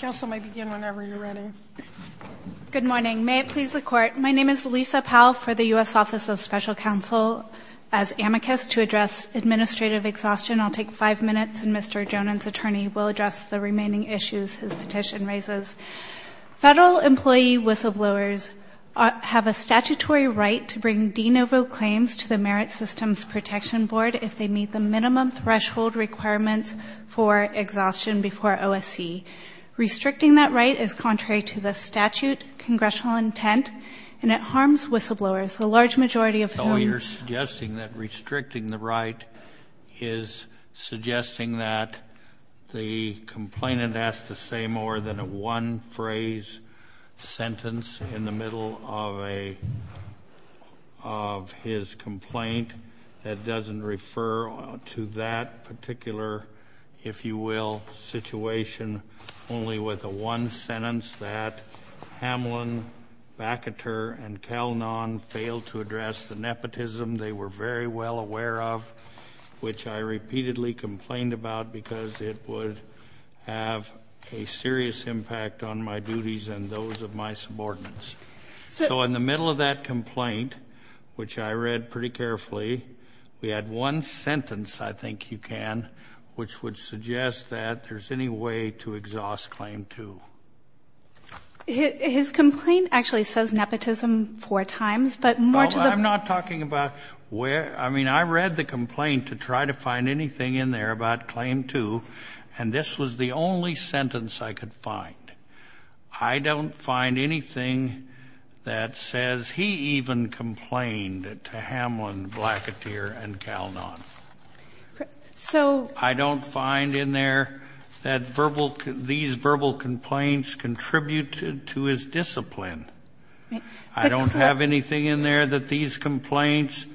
Council may begin whenever you're ready. Good morning. May it please the Court, my name is Lisa Powell for the U.S. Office of Special Counsel. As amicus to address administrative exhaustion, I'll take five minutes and Mr. Johnen's attorney will address the remaining issues his petition raises. Federal employee whistleblowers have a statutory right to bring de novo claims to the Merit Systems Protection Board if they meet the minimum threshold requirements for exhaustion before OSC. Restricting that right is contrary to the statute, congressional intent, and it harms whistleblowers, the large majority of whom... So you're suggesting that restricting the right is suggesting that the complainant has to say more than one phrase, a sentence in the middle of his complaint that doesn't refer to that particular, if you will, situation only with a one sentence that Hamlin, Bacoteur, and Kelnon failed to address the nepotism they were very well aware of, which I repeatedly complained about because it would have a serious impact on my duties and those of my subordinates. So in the middle of that complaint, which I read pretty carefully, we had one sentence, I think you can, which would suggest that there's any way to exhaust claim two. His complaint actually says nepotism four times, but more to the... I'm not talking about where, I mean, I read the complaint to try to find anything in there about claim two, and this was the only sentence I could find. I don't find anything that says he even complained to Hamlin, Bacoteur, and Kelnon. So... I don't find in there that verbal, these verbal complaints contributed to his discipline. I don't have anything in there that these complaints,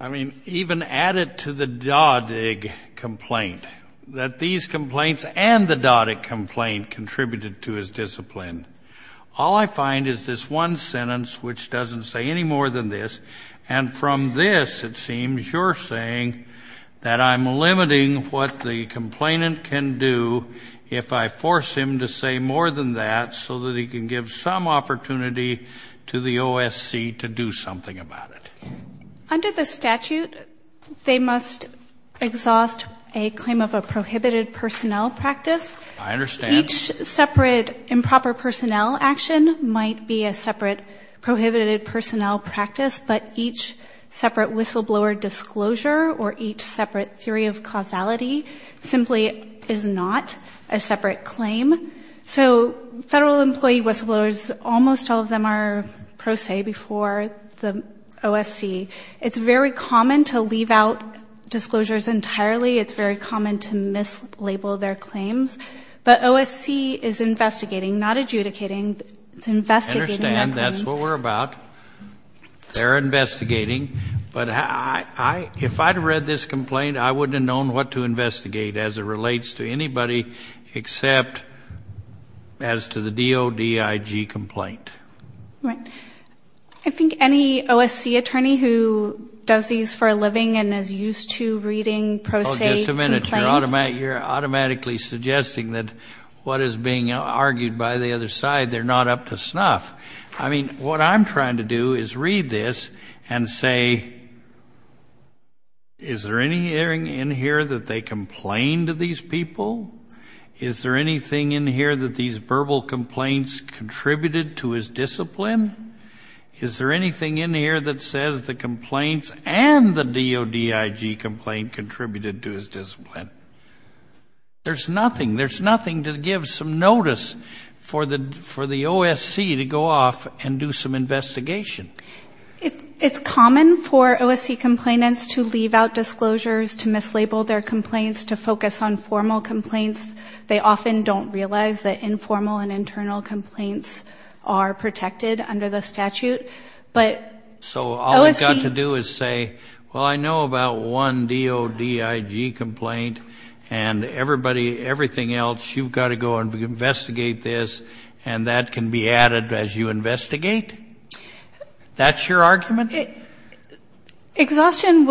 I mean, even added to the doddic complaint, that these complaints and the doddic complaint contributed to his discipline. All I find is this one sentence, which doesn't say any more than this, and from this, it seems, that I'm limiting what the complainant can do if I force him to say more than that, so that he can give some opportunity to the OSC to do something about it. Under the statute, they must exhaust a claim of a prohibited personnel practice. I understand. Each separate improper personnel action might be a separate prohibited personnel practice, but each separate whistleblower disclosure or each separate theory of causality simply is not a separate claim. So federal employee whistleblowers, almost all of them are pro se before the OSC. It's very common to leave out disclosures entirely. It's very common to mislabel their claims. But OSC is investigating, not adjudicating. It's investigating a claim. That's what we're about. They're investigating. But if I'd read this complaint, I wouldn't have known what to investigate, as it relates to anybody except as to the doddic complaint. Right. I think any OSC attorney who does these for a living and is used to reading pro se complaints. Just a minute. You're automatically suggesting that what is being argued by the other side, they're not up to snuff. I mean, what I'm trying to do is read this and say, is there anything in here that they complained to these people? Is there anything in here that these verbal complaints contributed to his discipline? Is there anything in here that says the complaints and the doddic complaint contributed to his discipline? There's nothing. There's nothing to give some notice for the OSC to go off and do some investigation. It's common for OSC complainants to leave out disclosures, to mislabel their complaints, to focus on formal complaints. They often don't realize that informal and internal complaints are protected under the statute. So all we've got to do is say, well, I know about one doddic complaint and everything else. You've got to go and investigate this, and that can be added as you investigate? That's your argument? Exhaustion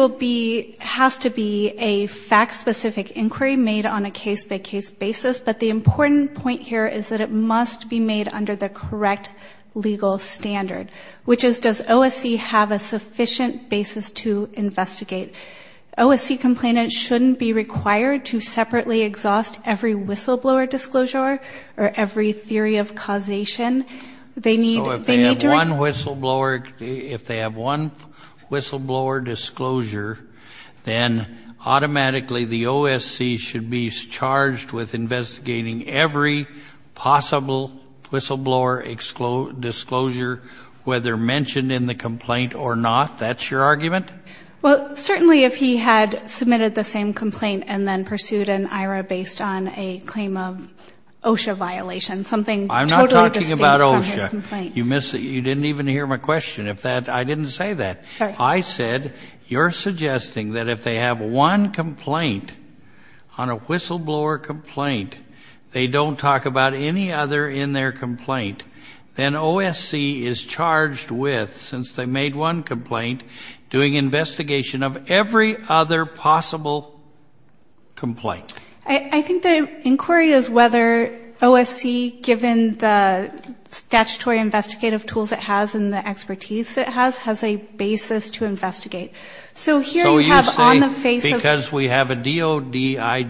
has to be a fact-specific inquiry made on a case-by-case basis. But the important point here is that it must be made under the correct legal standard, which is, does OSC have a sufficient basis to investigate? OSC complainants shouldn't be required to separately exhaust every whistleblower disclosure or every theory of causation. They need to read. If they have one whistleblower disclosure, then automatically the OSC should be charged with investigating every possible whistleblower disclosure, whether mentioned in the complaint or not. That's your argument? Well, certainly if he had submitted the same complaint and then pursued an IRA based on a claim of OSHA violation, something totally distinct from his complaint. I'm not talking about OSHA. You didn't even hear my question. I didn't say that. I said you're suggesting that if they have one complaint on a whistleblower complaint, they don't talk about any other in their complaint, then OSC is charged with, since they made one complaint, doing investigation of every other possible complaint. I think the inquiry is whether OSC, given the statutory investigative tools it has and the expertise it has, has a basis to investigate. So here you have on the face of the... So you're saying because we have a DOD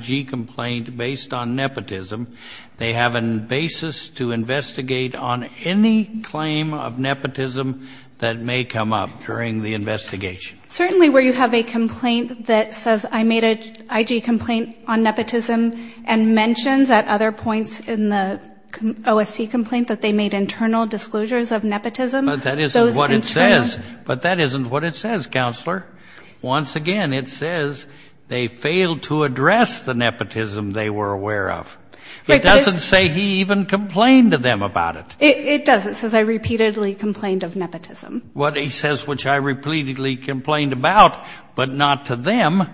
IG complaint based on nepotism, they have a basis to investigate on any claim of nepotism that may come up during the investigation. Certainly where you have a complaint that says I made an IG complaint on nepotism and mentions at other points in the OSC complaint that they made internal disclosures of nepotism. But that isn't what it says. But that isn't what it says, Counselor. Once again, it says they failed to address the nepotism they were aware of. It doesn't say he even complained to them about it. It does. It says I repeatedly complained of nepotism. What it says, which I repeatedly complained about, but not to them.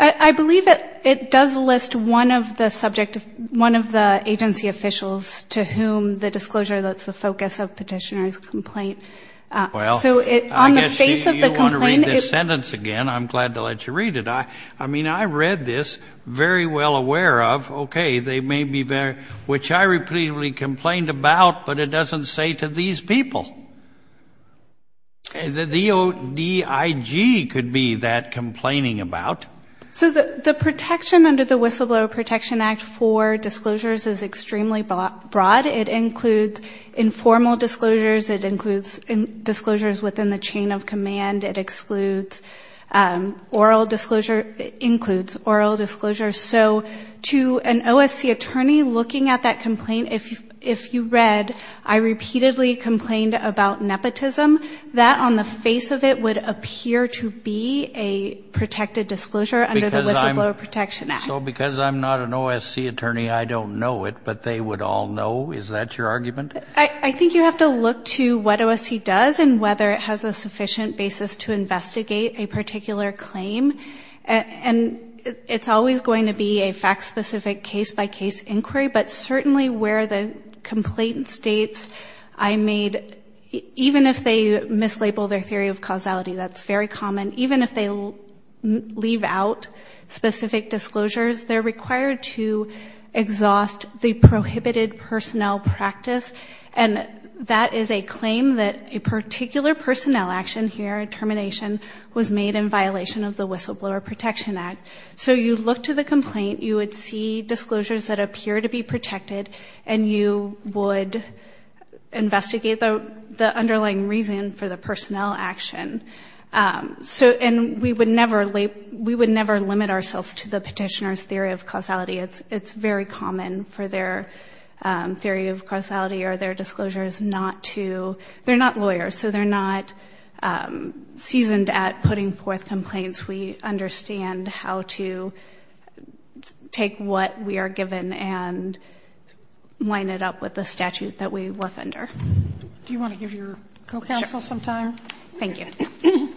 I believe it does list one of the subject, one of the agency officials, to whom the disclosure that's the focus of petitioner's complaint. Well, I guess you want to read this sentence again. I'm glad to let you read it. I mean, I read this very well aware of, okay, they may be there, which I repeatedly complained about, but it doesn't say to these people. The DIG could be that complaining about. So the protection under the Whistleblower Protection Act for disclosures is extremely broad. It includes informal disclosures. It includes disclosures within the chain of command. It excludes oral disclosure. It includes oral disclosure. So to an OSC attorney looking at that complaint, if you read, I repeatedly complained about nepotism, that on the face of it would appear to be a protected disclosure under the Whistleblower Protection Act. So because I'm not an OSC attorney, I don't know it, but they would all know? Is that your argument? I think you have to look to what OSC does and whether it has a sufficient basis to investigate a particular claim. And it's always going to be a fact-specific case-by-case inquiry, but certainly where the complaint states I made, even if they mislabel their theory of causality, that's very common, even if they leave out specific disclosures, they're required to exhaust the prohibited personnel practice. And that is a claim that a particular personnel action here, a termination, was made in violation of the Whistleblower Protection Act. So you look to the complaint, you would see disclosures that appear to be protected, and you would investigate the underlying reason for the personnel action. And we would never limit ourselves to the petitioner's theory of causality. It's very common for their theory of causality or their disclosures not to – And at Puddingforth Complaints, we understand how to take what we are given and line it up with the statute that we work under. Do you want to give your co-counsel some time? Sure. Thank you.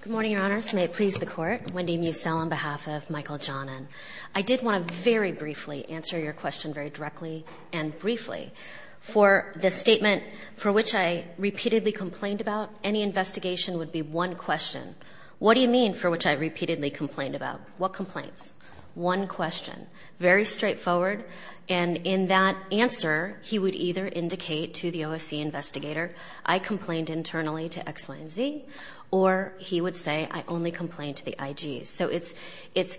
Good morning, Your Honors. May it please the Court. Wendy Musell on behalf of Michael Jonan. I did want to very briefly answer your question very directly and briefly. For the statement for which I repeatedly complained about, any investigation would be one question. What do you mean for which I repeatedly complained about? What complaints? One question. Very straightforward. And in that answer, he would either indicate to the OSC investigator, I complained internally to X, Y, and Z, or he would say, I only complained to the IGs. So it's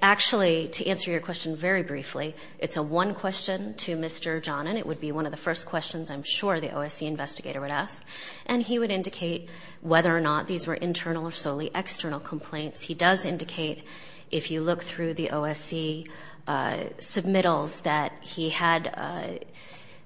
actually, to answer your question very briefly, it's a one question to Mr. Jonan. It would be one of the first questions I'm sure the OSC investigator would ask. And he would indicate whether or not these were internal or solely external complaints. He does indicate, if you look through the OSC submittals, that he had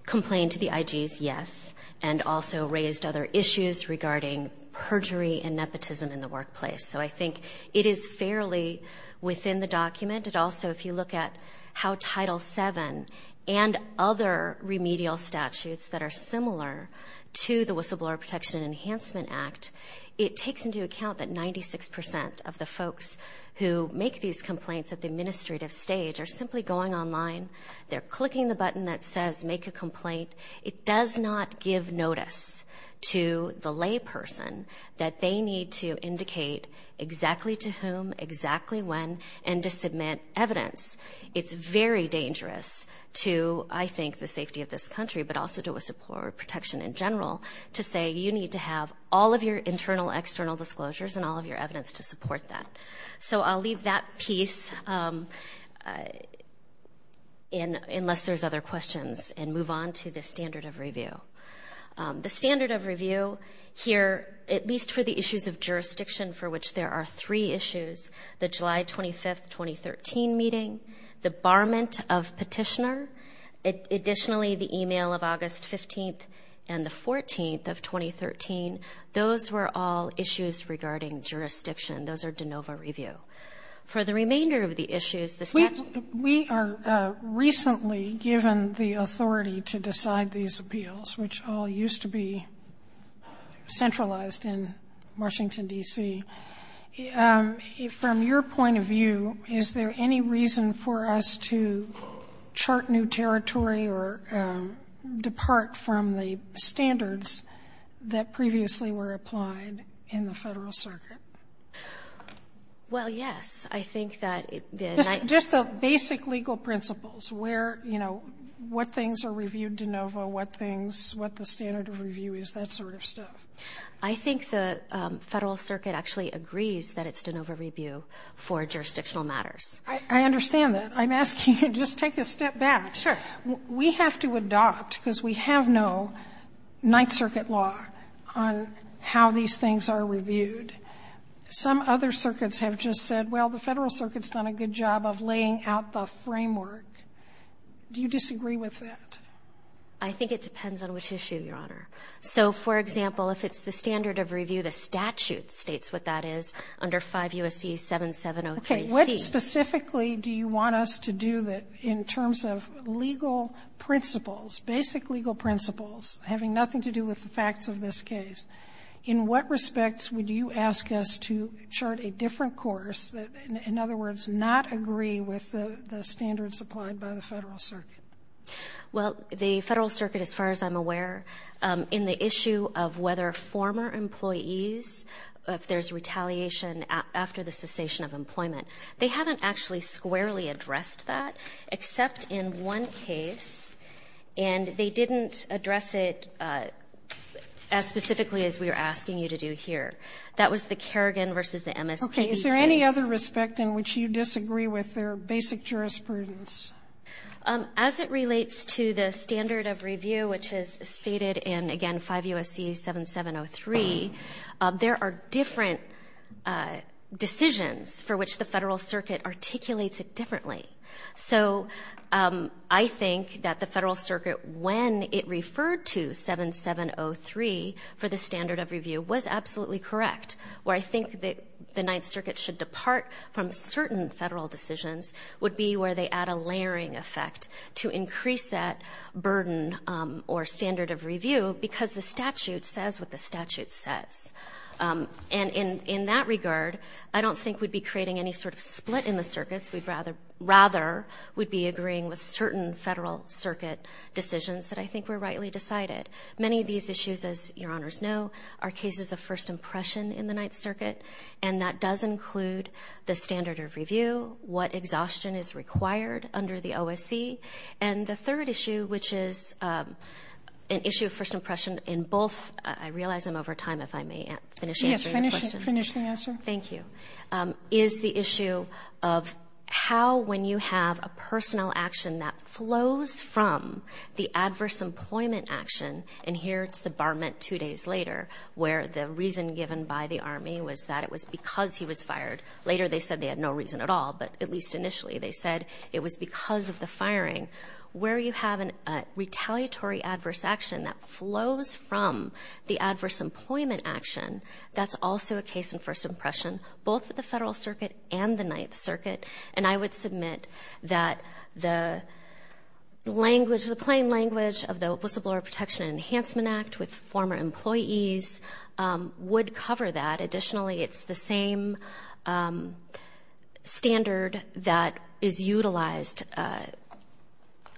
complained to the IGs, yes, and also raised other issues regarding perjury and nepotism in the workplace. So I think it is fairly within the document. It also, if you look at how Title VII and other remedial statutes that are similar to the Whistleblower Protection Enhancement Act, it takes into account that 96% of the folks who make these complaints at the administrative stage are simply going online, they're clicking the button that says make a complaint. It does not give notice to the layperson that they need to indicate exactly to whom, exactly when, and to submit evidence. It's very dangerous to, I think, the safety of this country, but also to whistleblower protection in general to say you need to have all of your internal, external disclosures and all of your evidence to support that. So I'll leave that piece unless there's other questions and move on to the standard of review. The standard of review here, at least for the issues of jurisdiction for which there are three issues, the July 25th, 2013 meeting, the barment of petitioner, additionally the e-mail of August 15th and the 14th of 2013, those were all issues regarding jurisdiction. Those are de novo review. For the remainder of the issues, the statute ---- We are recently given the authority to decide these appeals, which all used to be centralized in Washington, D.C. From your point of view, is there any reason for us to chart new territory or depart from the standards that previously were applied in the Federal Circuit? Well, yes. I think that the ---- Just the basic legal principles where, you know, what things are reviewed de novo, what things, what the standard of review is, that sort of stuff. I think the Federal Circuit actually agrees that it's de novo review for jurisdictional matters. I understand that. I'm asking you to just take a step back. Sure. We have to adopt, because we have no Ninth Circuit law, on how these things are reviewed. Some other circuits have just said, well, the Federal Circuit's done a good job of laying out the framework. Do you disagree with that? I think it depends on which issue, Your Honor. So, for example, if it's the standard of review, the statute states what that is, under 5 U.S.C. 7703C. Okay. What specifically do you want us to do in terms of legal principles, basic legal principles, having nothing to do with the facts of this case? In what respects would you ask us to chart a different course, in other words, not agree with the standards applied by the Federal Circuit? Well, the Federal Circuit, as far as I'm aware, in the issue of whether former employees, if there's retaliation after the cessation of employment, they haven't actually squarely addressed that, except in one case. And they didn't address it as specifically as we are asking you to do here. That was the Kerrigan v. the MSPB case. Okay. Is there any other respect in which you disagree with their basic jurisprudence? As it relates to the standard of review, which is stated in, again, 5 U.S.C. 7703, there are different decisions for which the Federal Circuit articulates it differently. So I think that the Federal Circuit, when it referred to 7703 for the standard of review, was absolutely correct. Where I think the Ninth Circuit should depart from certain Federal decisions would be where they add a layering effect to increase that burden or standard of review, because the statute says what the statute says. And in that regard, I don't think we'd be creating any sort of split in the circuits. We'd rather would be agreeing with certain Federal Circuit decisions that I think were rightly decided. Many of these issues, as Your Honors know, are cases of first impression in the Ninth Circuit, and that does include the standard of review, what exhaustion is required under the OSC. And the third issue, which is an issue of first impression in both – I realize I'm over time, if I may finish answering the question. Yes, finish the answer. Thank you. The third issue is the issue of how, when you have a personnel action that flows from the adverse employment action, and here it's the barment two days later, where the reason given by the Army was that it was because he was fired. Later they said they had no reason at all, but at least initially they said it was because of the firing. Where you have a retaliatory adverse action that flows from the adverse employment action, that's also a case in first impression, both with the Federal Circuit and the Ninth Circuit. And I would submit that the language, the plain language of the Opposable Law of Protection and Enhancement Act with former employees would cover that. Additionally, it's the same standard that is utilized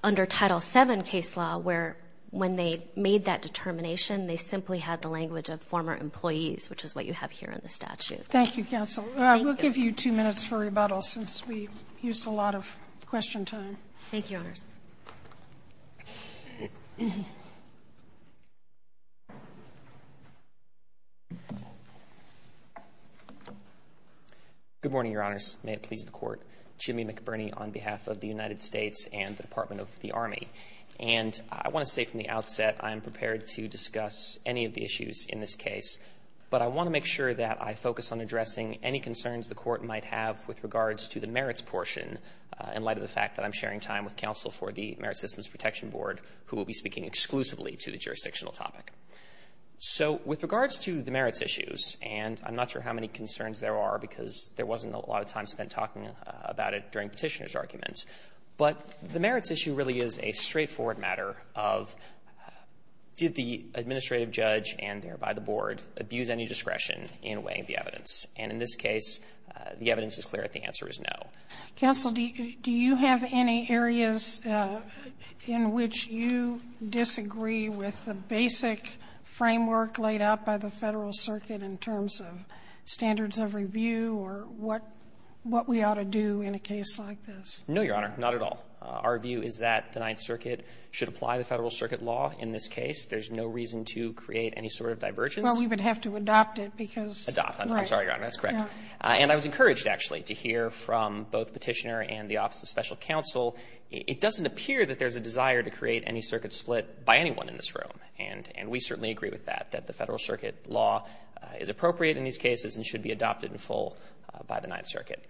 under Title VII case law where when they made that determination, they simply had the language of former employees, which is what you have here in the statute. Thank you, counsel. We'll give you two minutes for rebuttal since we used a lot of question time. Thank you, Your Honors. Good morning, Your Honors. May it please the Court. Jimmy McBurney on behalf of the United States and the Department of the Army. And I want to say from the outset I am prepared to discuss any of the issues in this case, but I want to make sure that I focus on addressing any concerns the Court might have with regards to the merits portion in light of the fact that I'm sharing time with counsel for the Merit Systems Protection Board, who will be speaking exclusively to the jurisdictional topic. So with regards to the merits issues, and I'm not sure how many concerns there are because there wasn't a lot of time spent talking about it during Petitioner's argument, but the merits issue really is a straightforward matter of did the administrative judge and thereby the board abuse any discretion in weighing the evidence. And in this case, the evidence is clear that the answer is no. Counsel, do you have any areas in which you disagree with the basic framework laid out by the Federal Circuit in terms of standards of review or what we ought to do in a case like this? No, Your Honor. Not at all. Our view is that the Ninth Circuit should apply the Federal Circuit law in this case. There's no reason to create any sort of divergence. Well, we would have to adopt it because, right. Adopt. I'm sorry, Your Honor. That's correct. And I was encouraged, actually, to hear from both Petitioner and the Office of Special Counsel. It doesn't appear that there's a desire to create any circuit split by anyone in this room, and we certainly agree with that, that the Federal Circuit law is appropriate in these cases and should be adopted in full by the Ninth Circuit.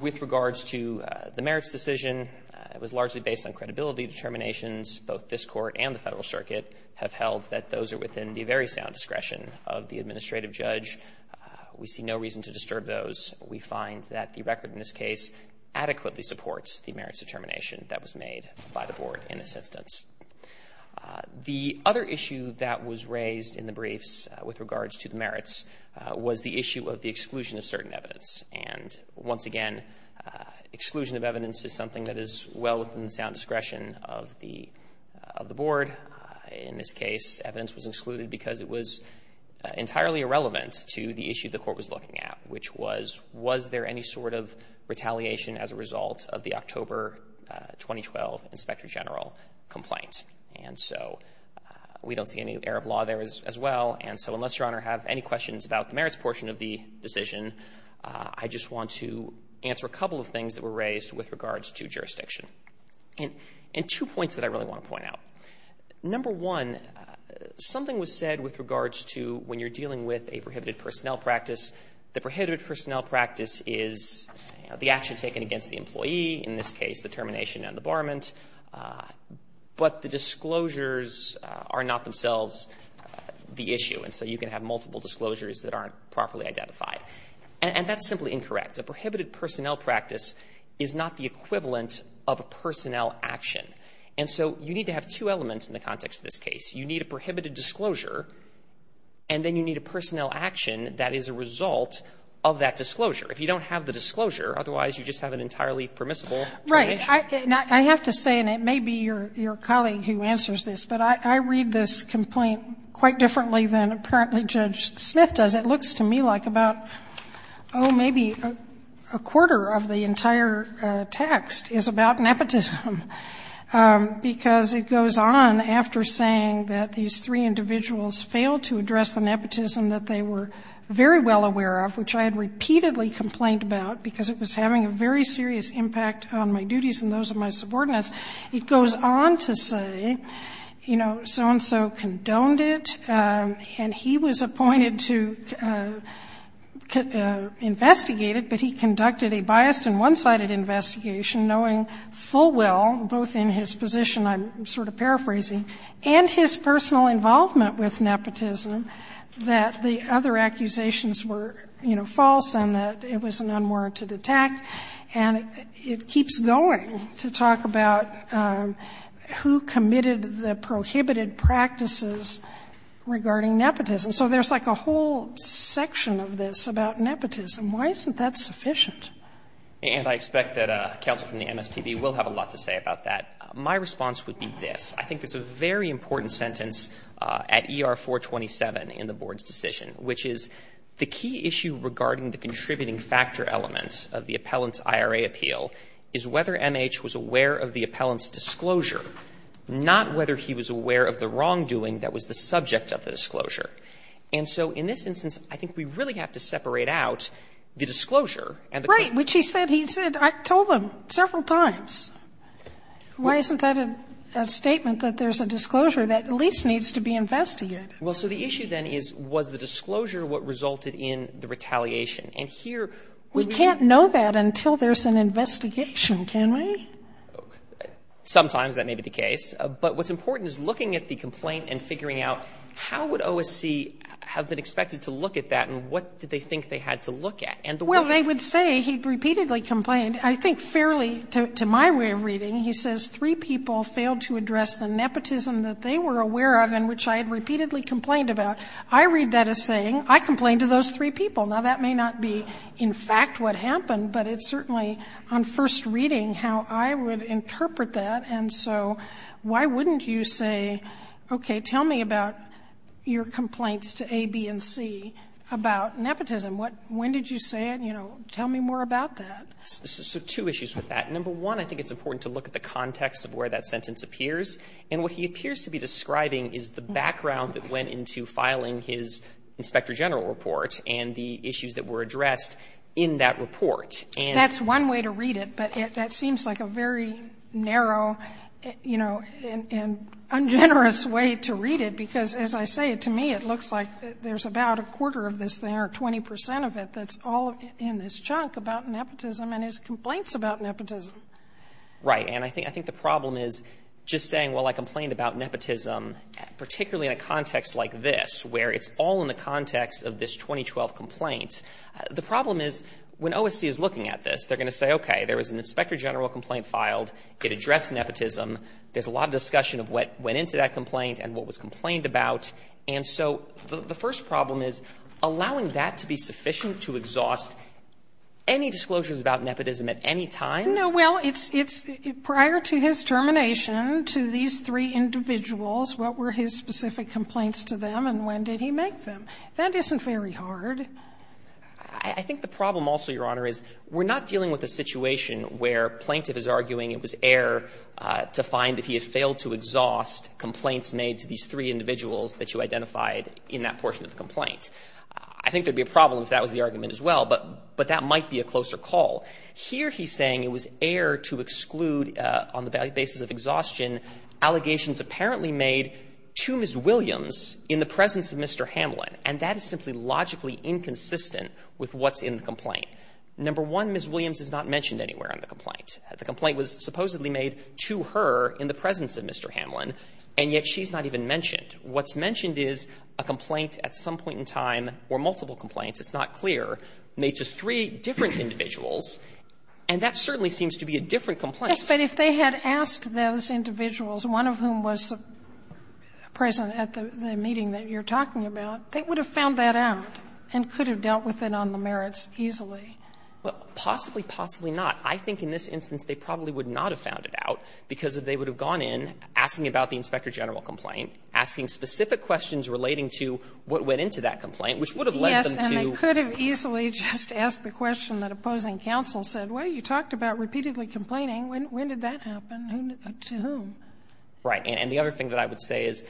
With regards to the merits decision, it was largely based on credibility determinations. Both this Court and the Federal Circuit have held that those are within the very sound discretion of the administrative judge. We see no reason to disturb those. We find that the record in this case adequately supports the merits determination that was made by the Board in assistance. The other issue that was raised in the briefs with regards to the merits was the issue of the exclusion of certain evidence. And once again, exclusion of evidence is something that is well within the sound discretion of the Board. In this case, evidence was excluded because it was entirely irrelevant to the issue the Court was looking at, which was, was there any sort of retaliation as a result of the October 2012 Inspector General complaint? And so we don't see any error of law there as well. And so unless Your Honor have any questions about the merits portion of the decision, I just want to answer a couple of things that were raised with regards to jurisdiction. And two points that I really want to point out. Number one, something was said with regards to when you're dealing with a prohibited personnel practice, the prohibited personnel practice is the action taken against the employee, in this case the termination and the barment, but the disclosures are not themselves the issue, and so you can have multiple disclosures that aren't properly identified. And that's simply incorrect. A prohibited personnel practice is not the equivalent of a personnel action. And so you need to have two elements in the context of this case. You need a prohibited disclosure, and then you need a personnel action that is a result of that disclosure. If you don't have the disclosure, otherwise you just have an entirely permissible termination. Right. I have to say, and it may be your colleague who answers this, but I read this complaint quite differently than apparently Judge Smith does. It looks to me like about, oh, maybe a quarter of the entire text is about nepotism, because it goes on after saying that these three individuals failed to address the nepotism that they were very well aware of, which I had repeatedly complained about because it was having a very serious impact on my duties and those of my subordinates. It goes on to say, you know, so-and-so condoned it, and he was appointed to investigate it, but he conducted a biased and one-sided investigation, knowing full well, both in his position, I'm sort of paraphrasing, and his personal involvement with nepotism, that the other accusations were, you know, false and that it was an unwarranted attack, and it keeps going to talk about who committed the prohibited practices regarding nepotism. So there's like a whole section of this about nepotism. Why isn't that sufficient? And I expect that counsel from the MSPB will have a lot to say about that. My response would be this. I think there's a very important sentence at ER-427 in the Board's decision, which is, the key issue regarding the contributing factor element of the appellant's IRA appeal is whether MH was aware of the appellant's disclosure, not whether he was aware of the wrongdoing that was the subject of the disclosure. And so in this instance, I think we really have to separate out the disclosure and the correctness. Sotomayor, he said, he said, I told them several times, why isn't that a statement that there's a disclosure that at least needs to be investigated? Well, so the issue then is, was the disclosure what resulted in the retaliation? And here, we need to know. We can't know that until there's an investigation, can we? Sometimes that may be the case. But what's important is looking at the complaint and figuring out, how would OSC have been expected to look at that, and what did they think they had to look at? Well, they would say he repeatedly complained. I think fairly, to my way of reading, he says, three people failed to address the nepotism that they were aware of, and which I had repeatedly complained about. I read that as saying, I complained to those three people. Now, that may not be, in fact, what happened. But it's certainly, on first reading, how I would interpret that. And so why wouldn't you say, okay, tell me about your complaints to A, B, and C about nepotism? When did you say it? You know, tell me more about that. So two issues with that. Number one, I think it's important to look at the context of where that sentence appears. And what he appears to be describing is the background that went into filing his Inspector General report and the issues that were addressed in that report. And that's one way to read it, but that seems like a very narrow, you know, and ungenerous way to read it, because, as I say, to me, it looks like there's about a quarter of this there, 20 percent of it, that's all in this chunk about nepotism and his complaints about nepotism. Right. And I think the problem is just saying, well, I complained about nepotism, particularly in a context like this, where it's all in the context of this 2012 complaint. The problem is, when OSC is looking at this, they're going to say, okay, there was an Inspector General complaint filed. It addressed nepotism. There's a lot of discussion of what went into that complaint and what was complained And so the first problem is, allowing that to be sufficient to exhaust any disclosures about nepotism at any time? No, well, it's prior to his termination to these three individuals, what were his specific complaints to them and when did he make them? That isn't very hard. I think the problem also, Your Honor, is we're not dealing with a situation where plaintiff is arguing it was error to find that he had failed to exhaust complaints made to these three individuals that you identified in that portion of the complaint. I think there would be a problem if that was the argument as well, but that might be a closer call. Here he's saying it was error to exclude, on the basis of exhaustion, allegations apparently made to Ms. Williams in the presence of Mr. Hamlin, and that is simply logically inconsistent with what's in the complaint. Number one, Ms. Williams is not mentioned anywhere on the complaint. The complaint was supposedly made to her in the presence of Mr. Hamlin, and yet she's not even mentioned. What's mentioned is a complaint at some point in time, or multiple complaints, it's not clear, made to three different individuals, and that certainly seems to be a different complaint. Yes, but if they had asked those individuals, one of whom was present at the meeting that you're talking about, they would have found that out and could have dealt with it on the merits easily. Well, possibly, possibly not. I think in this instance they probably would not have found it out because they would have gone in asking about the Inspector General complaint, asking specific questions relating to what went into that complaint, which would have led them to. Yes, and they could have easily just asked the question that opposing counsel said, well, you talked about repeatedly complaining. When did that happen? To whom? Right. And the other thing that I would say is,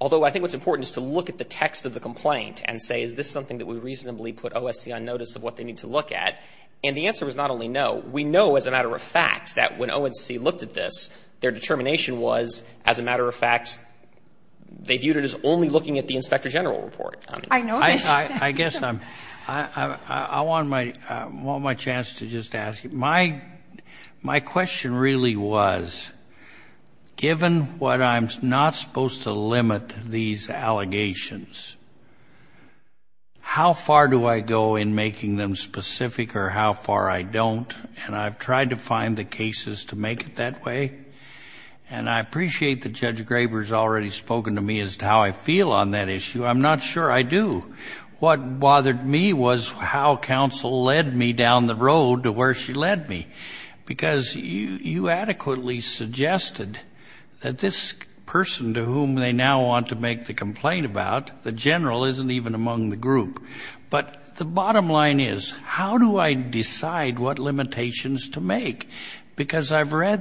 although I think what's important is to look at the text of the complaint and say, is this something that we reasonably put OSC on notice of what they need to look at? And the answer is not only no. We know as a matter of fact that when OSC looked at this, their determination was, as a matter of fact, they viewed it as only looking at the Inspector General report. I know this. I guess I'm, I want my chance to just ask you. My question really was, given what I'm not supposed to limit these allegations, how far do I go in making them specific or how far I don't? And I've tried to find the cases to make it that way. And I appreciate that Judge Graber has already spoken to me as to how I feel on that issue. I'm not sure I do. What bothered me was how counsel led me down the road to where she led me. Because you adequately suggested that this person to whom they now want to make the complaint about, the General, isn't even among the group. But the bottom line is, how do I decide what limitations to make? Because I've read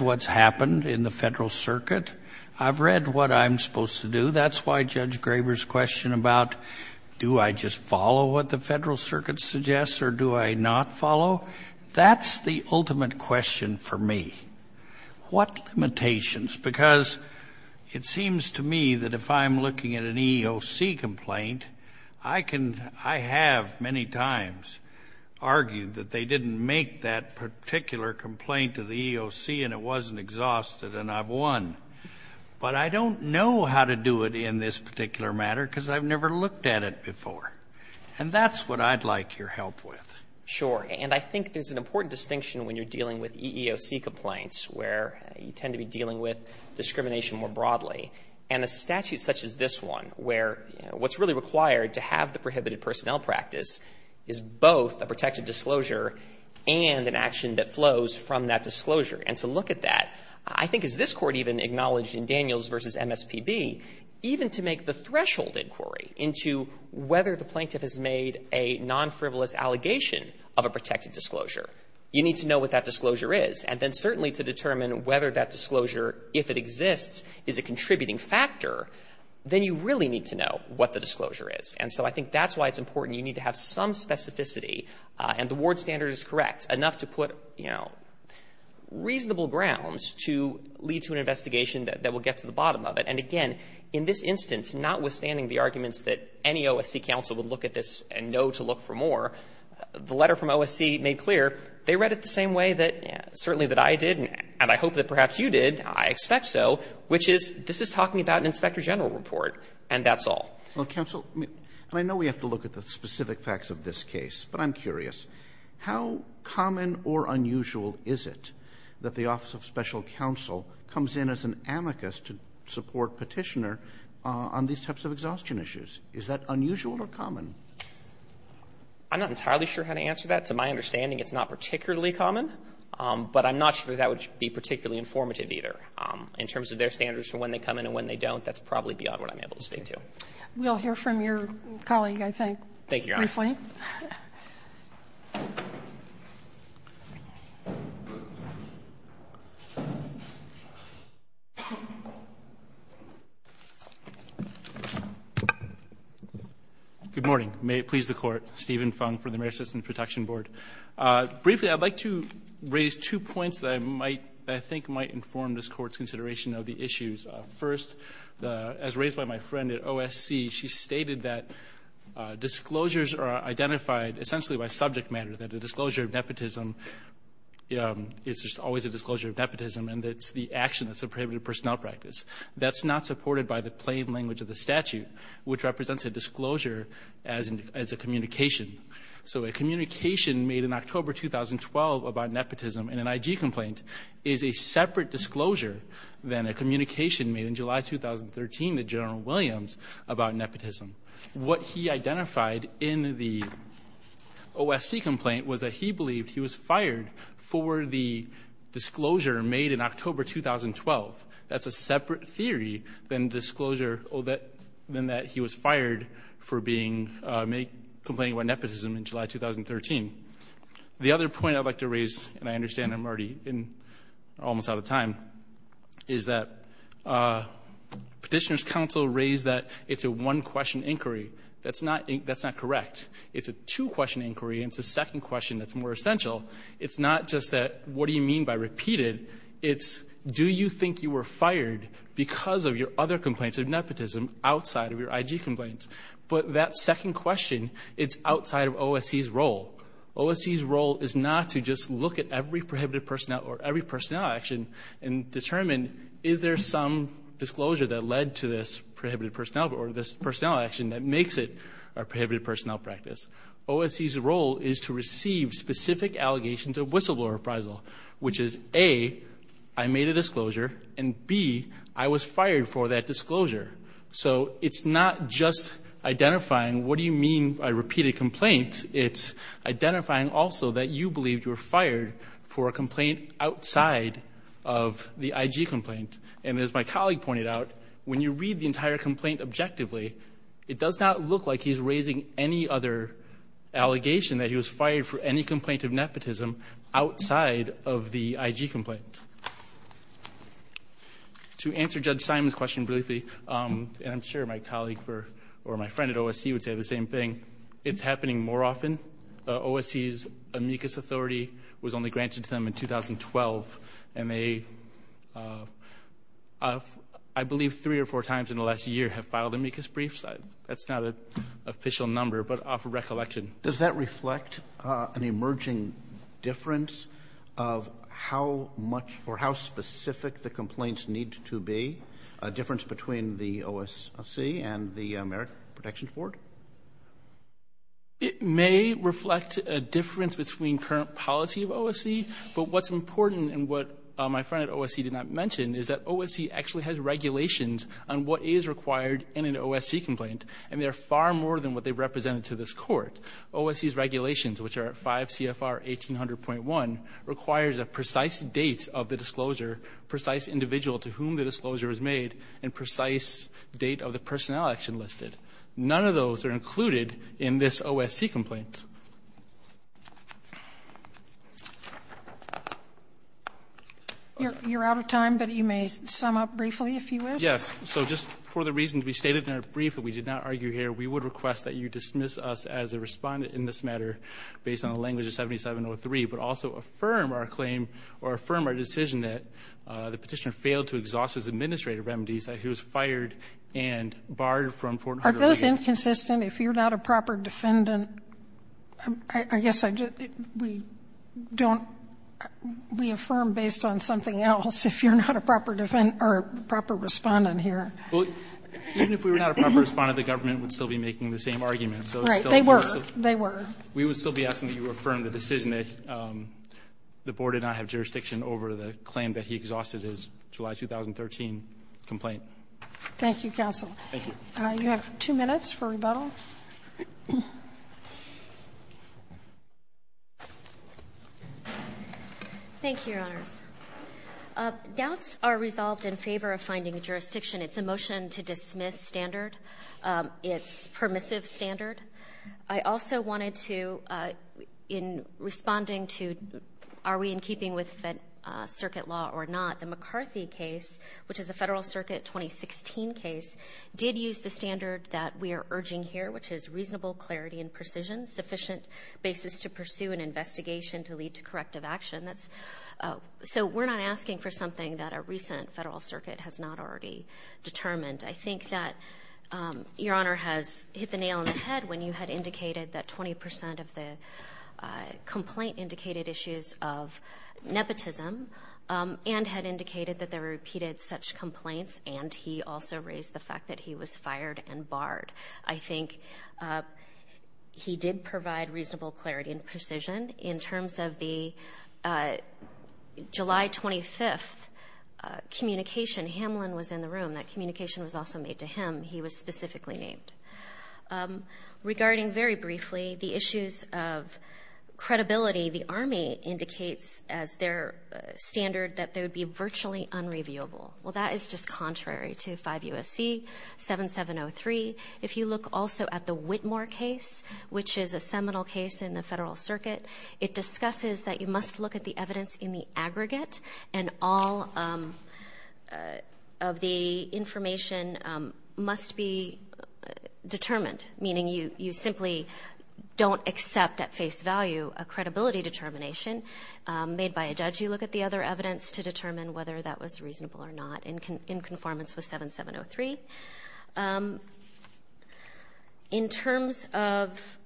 what's happened in the Federal Circuit. I've read what I'm supposed to do. That's why Judge Graber's question about do I just follow what the Federal Circuit suggests or do I not follow? That's the ultimate question for me. What limitations? Because it seems to me that if I'm looking at an EEOC complaint, I can, I have many times argued that they didn't make that particular complaint to the EEOC and it wasn't exhausted and I've won. But I don't know how to do it in this particular matter because I've never looked at it before. And that's what I'd like your help with. Sure. And I think there's an important distinction when you're dealing with EEOC complaints where you tend to be dealing with discrimination more broadly. And a statute such as this one where what's really required to have the prohibited personnel practice is both a protected disclosure and an action that flows from that disclosure. And to look at that, I think as this Court even acknowledged in Daniels v. MSPB, even to make the threshold inquiry into whether the plaintiff has made a non-frivolous allegation of a protected disclosure, you need to know what that disclosure is. And then certainly to determine whether that disclosure, if it exists, is a contributing factor, then you really need to know what the disclosure is. And so I think that's why it's important. You need to have some specificity and the ward standard is correct, enough to put, you know, reasonable grounds to lead to an investigation that will get to the bottom of it. And again, in this instance, notwithstanding the arguments that any OSC counsel would look at this and know to look for more, the letter from OSC made clear they read it the same way that certainly that I did and I hope that perhaps you did, I expect so, which is this is talking about an Inspector General report, and that's all. Roberts. Well, counsel, I mean, and I know we have to look at the specific facts of this case, but I'm curious. How common or unusual is it that the Office of Special Counsel comes in as an amicus to support Petitioner on these types of exhaustion issues? Is that unusual or common? I'm not entirely sure how to answer that. To my understanding, it's not particularly common, but I'm not sure that that would be particularly informative either. In terms of their standards for when they come in and when they don't, that's probably beyond what I'm able to speak to. We'll hear from your colleague, I think, briefly. Thank you, Your Honor. Good morning. May it please the Court. Stephen Fung for the Mayor's Citizen Protection Board. Briefly, I'd like to raise two points that I think might inform this Court's consideration of the issues. First, as raised by my friend at OSC, she stated that disclosures are identified essentially by subject matter. That a disclosure of nepotism is just always a disclosure of nepotism and that it's the action that's a prohibited personnel practice. That's not supported by the plain language of the statute, which represents a disclosure as a communication. So a communication made in October 2012 about nepotism in an IG complaint is a separate disclosure than a communication made in July 2013 to General Williams about nepotism. What he identified in the OSC complaint was that he believed he was fired for the disclosure made in October 2012. That's a separate theory than that he was fired for complaining about nepotism in July 2013. The other point I'd like to raise, and I understand I'm already almost out of That's not correct. It's a two-question inquiry and it's a second question that's more essential. It's not just that, what do you mean by repeated? It's, do you think you were fired because of your other complaints of nepotism outside of your IG complaints? But that second question, it's outside of OSC's role. OSC's role is not to just look at every prohibited personnel or every personnel action and determine, is there some disclosure that led to this prohibited personnel action that makes it a prohibited personnel practice? OSC's role is to receive specific allegations of whistleblower appraisal, which is, A, I made a disclosure, and B, I was fired for that disclosure. So it's not just identifying, what do you mean by repeated complaints? It's identifying also that you believed you were fired for a complaint outside of the IG complaint. And as my colleague pointed out, when you read the entire complaint objectively, it does not look like he's raising any other allegation that he was fired for any complaint of nepotism outside of the IG complaint. To answer Judge Simon's question briefly, and I'm sure my colleague or my friend at OSC would say the same thing, it's happening more often. OSC's amicus authority was only granted to them in 2012, and they, I believe, three or four times in the last year have filed amicus briefs. That's not an official number, but off of recollection. Does that reflect an emerging difference of how much or how specific the complaints need to be, a difference between the OSC and the American Protections Board? It may reflect a difference between current policy of OSC, but what's important and what my friend at OSC did not mention is that OSC actually has regulations on what is required in an OSC complaint, and they're far more than what they represented to this court. OSC's regulations, which are at 5 CFR 1800.1, requires a precise date of the disclosure, precise individual to whom the disclosure is made, and precise date of the personnel action listed. None of those are included in this OSC complaint. You're out of time, but you may sum up briefly if you wish. Yes. So just for the reasons we stated in our brief that we did not argue here, we would request that you dismiss us as a respondent in this matter based on the language of 7703, but also affirm our claim or affirm our decision that the petitioner failed to exhaust his administrative remedies, that he was fired and barred from 1400. Are those inconsistent? If you're not a proper defendant, I guess we don't, we affirm based on something else if you're not a proper defendant or a proper respondent here. Even if we were not a proper respondent, the government would still be making the same argument. Right. They were. They were. We would still be asking that you affirm the decision that the board did not have jurisdiction over the claim that he exhausted his July 2013 complaint. Thank you, counsel. Thank you. You have two minutes for rebuttal. Thank you, Your Honors. Doubts are resolved in favor of finding a jurisdiction. It's a motion to dismiss standard. It's permissive standard. I also wanted to, in responding to are we in keeping with circuit law or not, the McCarthy case, which is a Federal Circuit 2016 case, did use the standard that we are urging here, which is reasonable clarity and precision, sufficient basis to pursue an investigation to lead to corrective action. So we're not asking for something that a recent Federal Circuit has not already determined. I think that Your Honor has hit the nail on the head when you had indicated that 20% of the complaint indicated issues of nepotism and had indicated that there were repeated such complaints, and he also raised the fact that he was fired and barred. I think he did provide reasonable clarity and precision. In terms of the July 25th communication, Hamlin was in the room. That communication was also made to him. He was specifically named. Regarding, very briefly, the issues of credibility, the Army indicates as their standard that they would be virtually unreviewable. Well, that is just contrary to 5 U.S.C. 7703. If you look also at the Whitmore case, which is a seminal case in the Federal Circuit, it discusses that you must look at the evidence in the aggregate and all of the information must be determined, meaning you simply don't accept at face value a credibility determination made by a judge. You look at the other evidence to determine whether that was reasonable or not in conformance with 7703. In terms of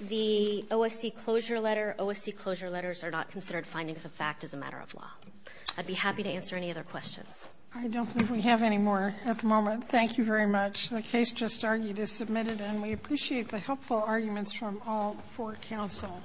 the OSC closure letter, OSC closure letters are not considered findings of fact as a matter of law. I'd be happy to answer any other questions. I don't think we have any more at the moment. Thank you very much. The case just argued is submitted, and we appreciate the helpful arguments from all four counsel.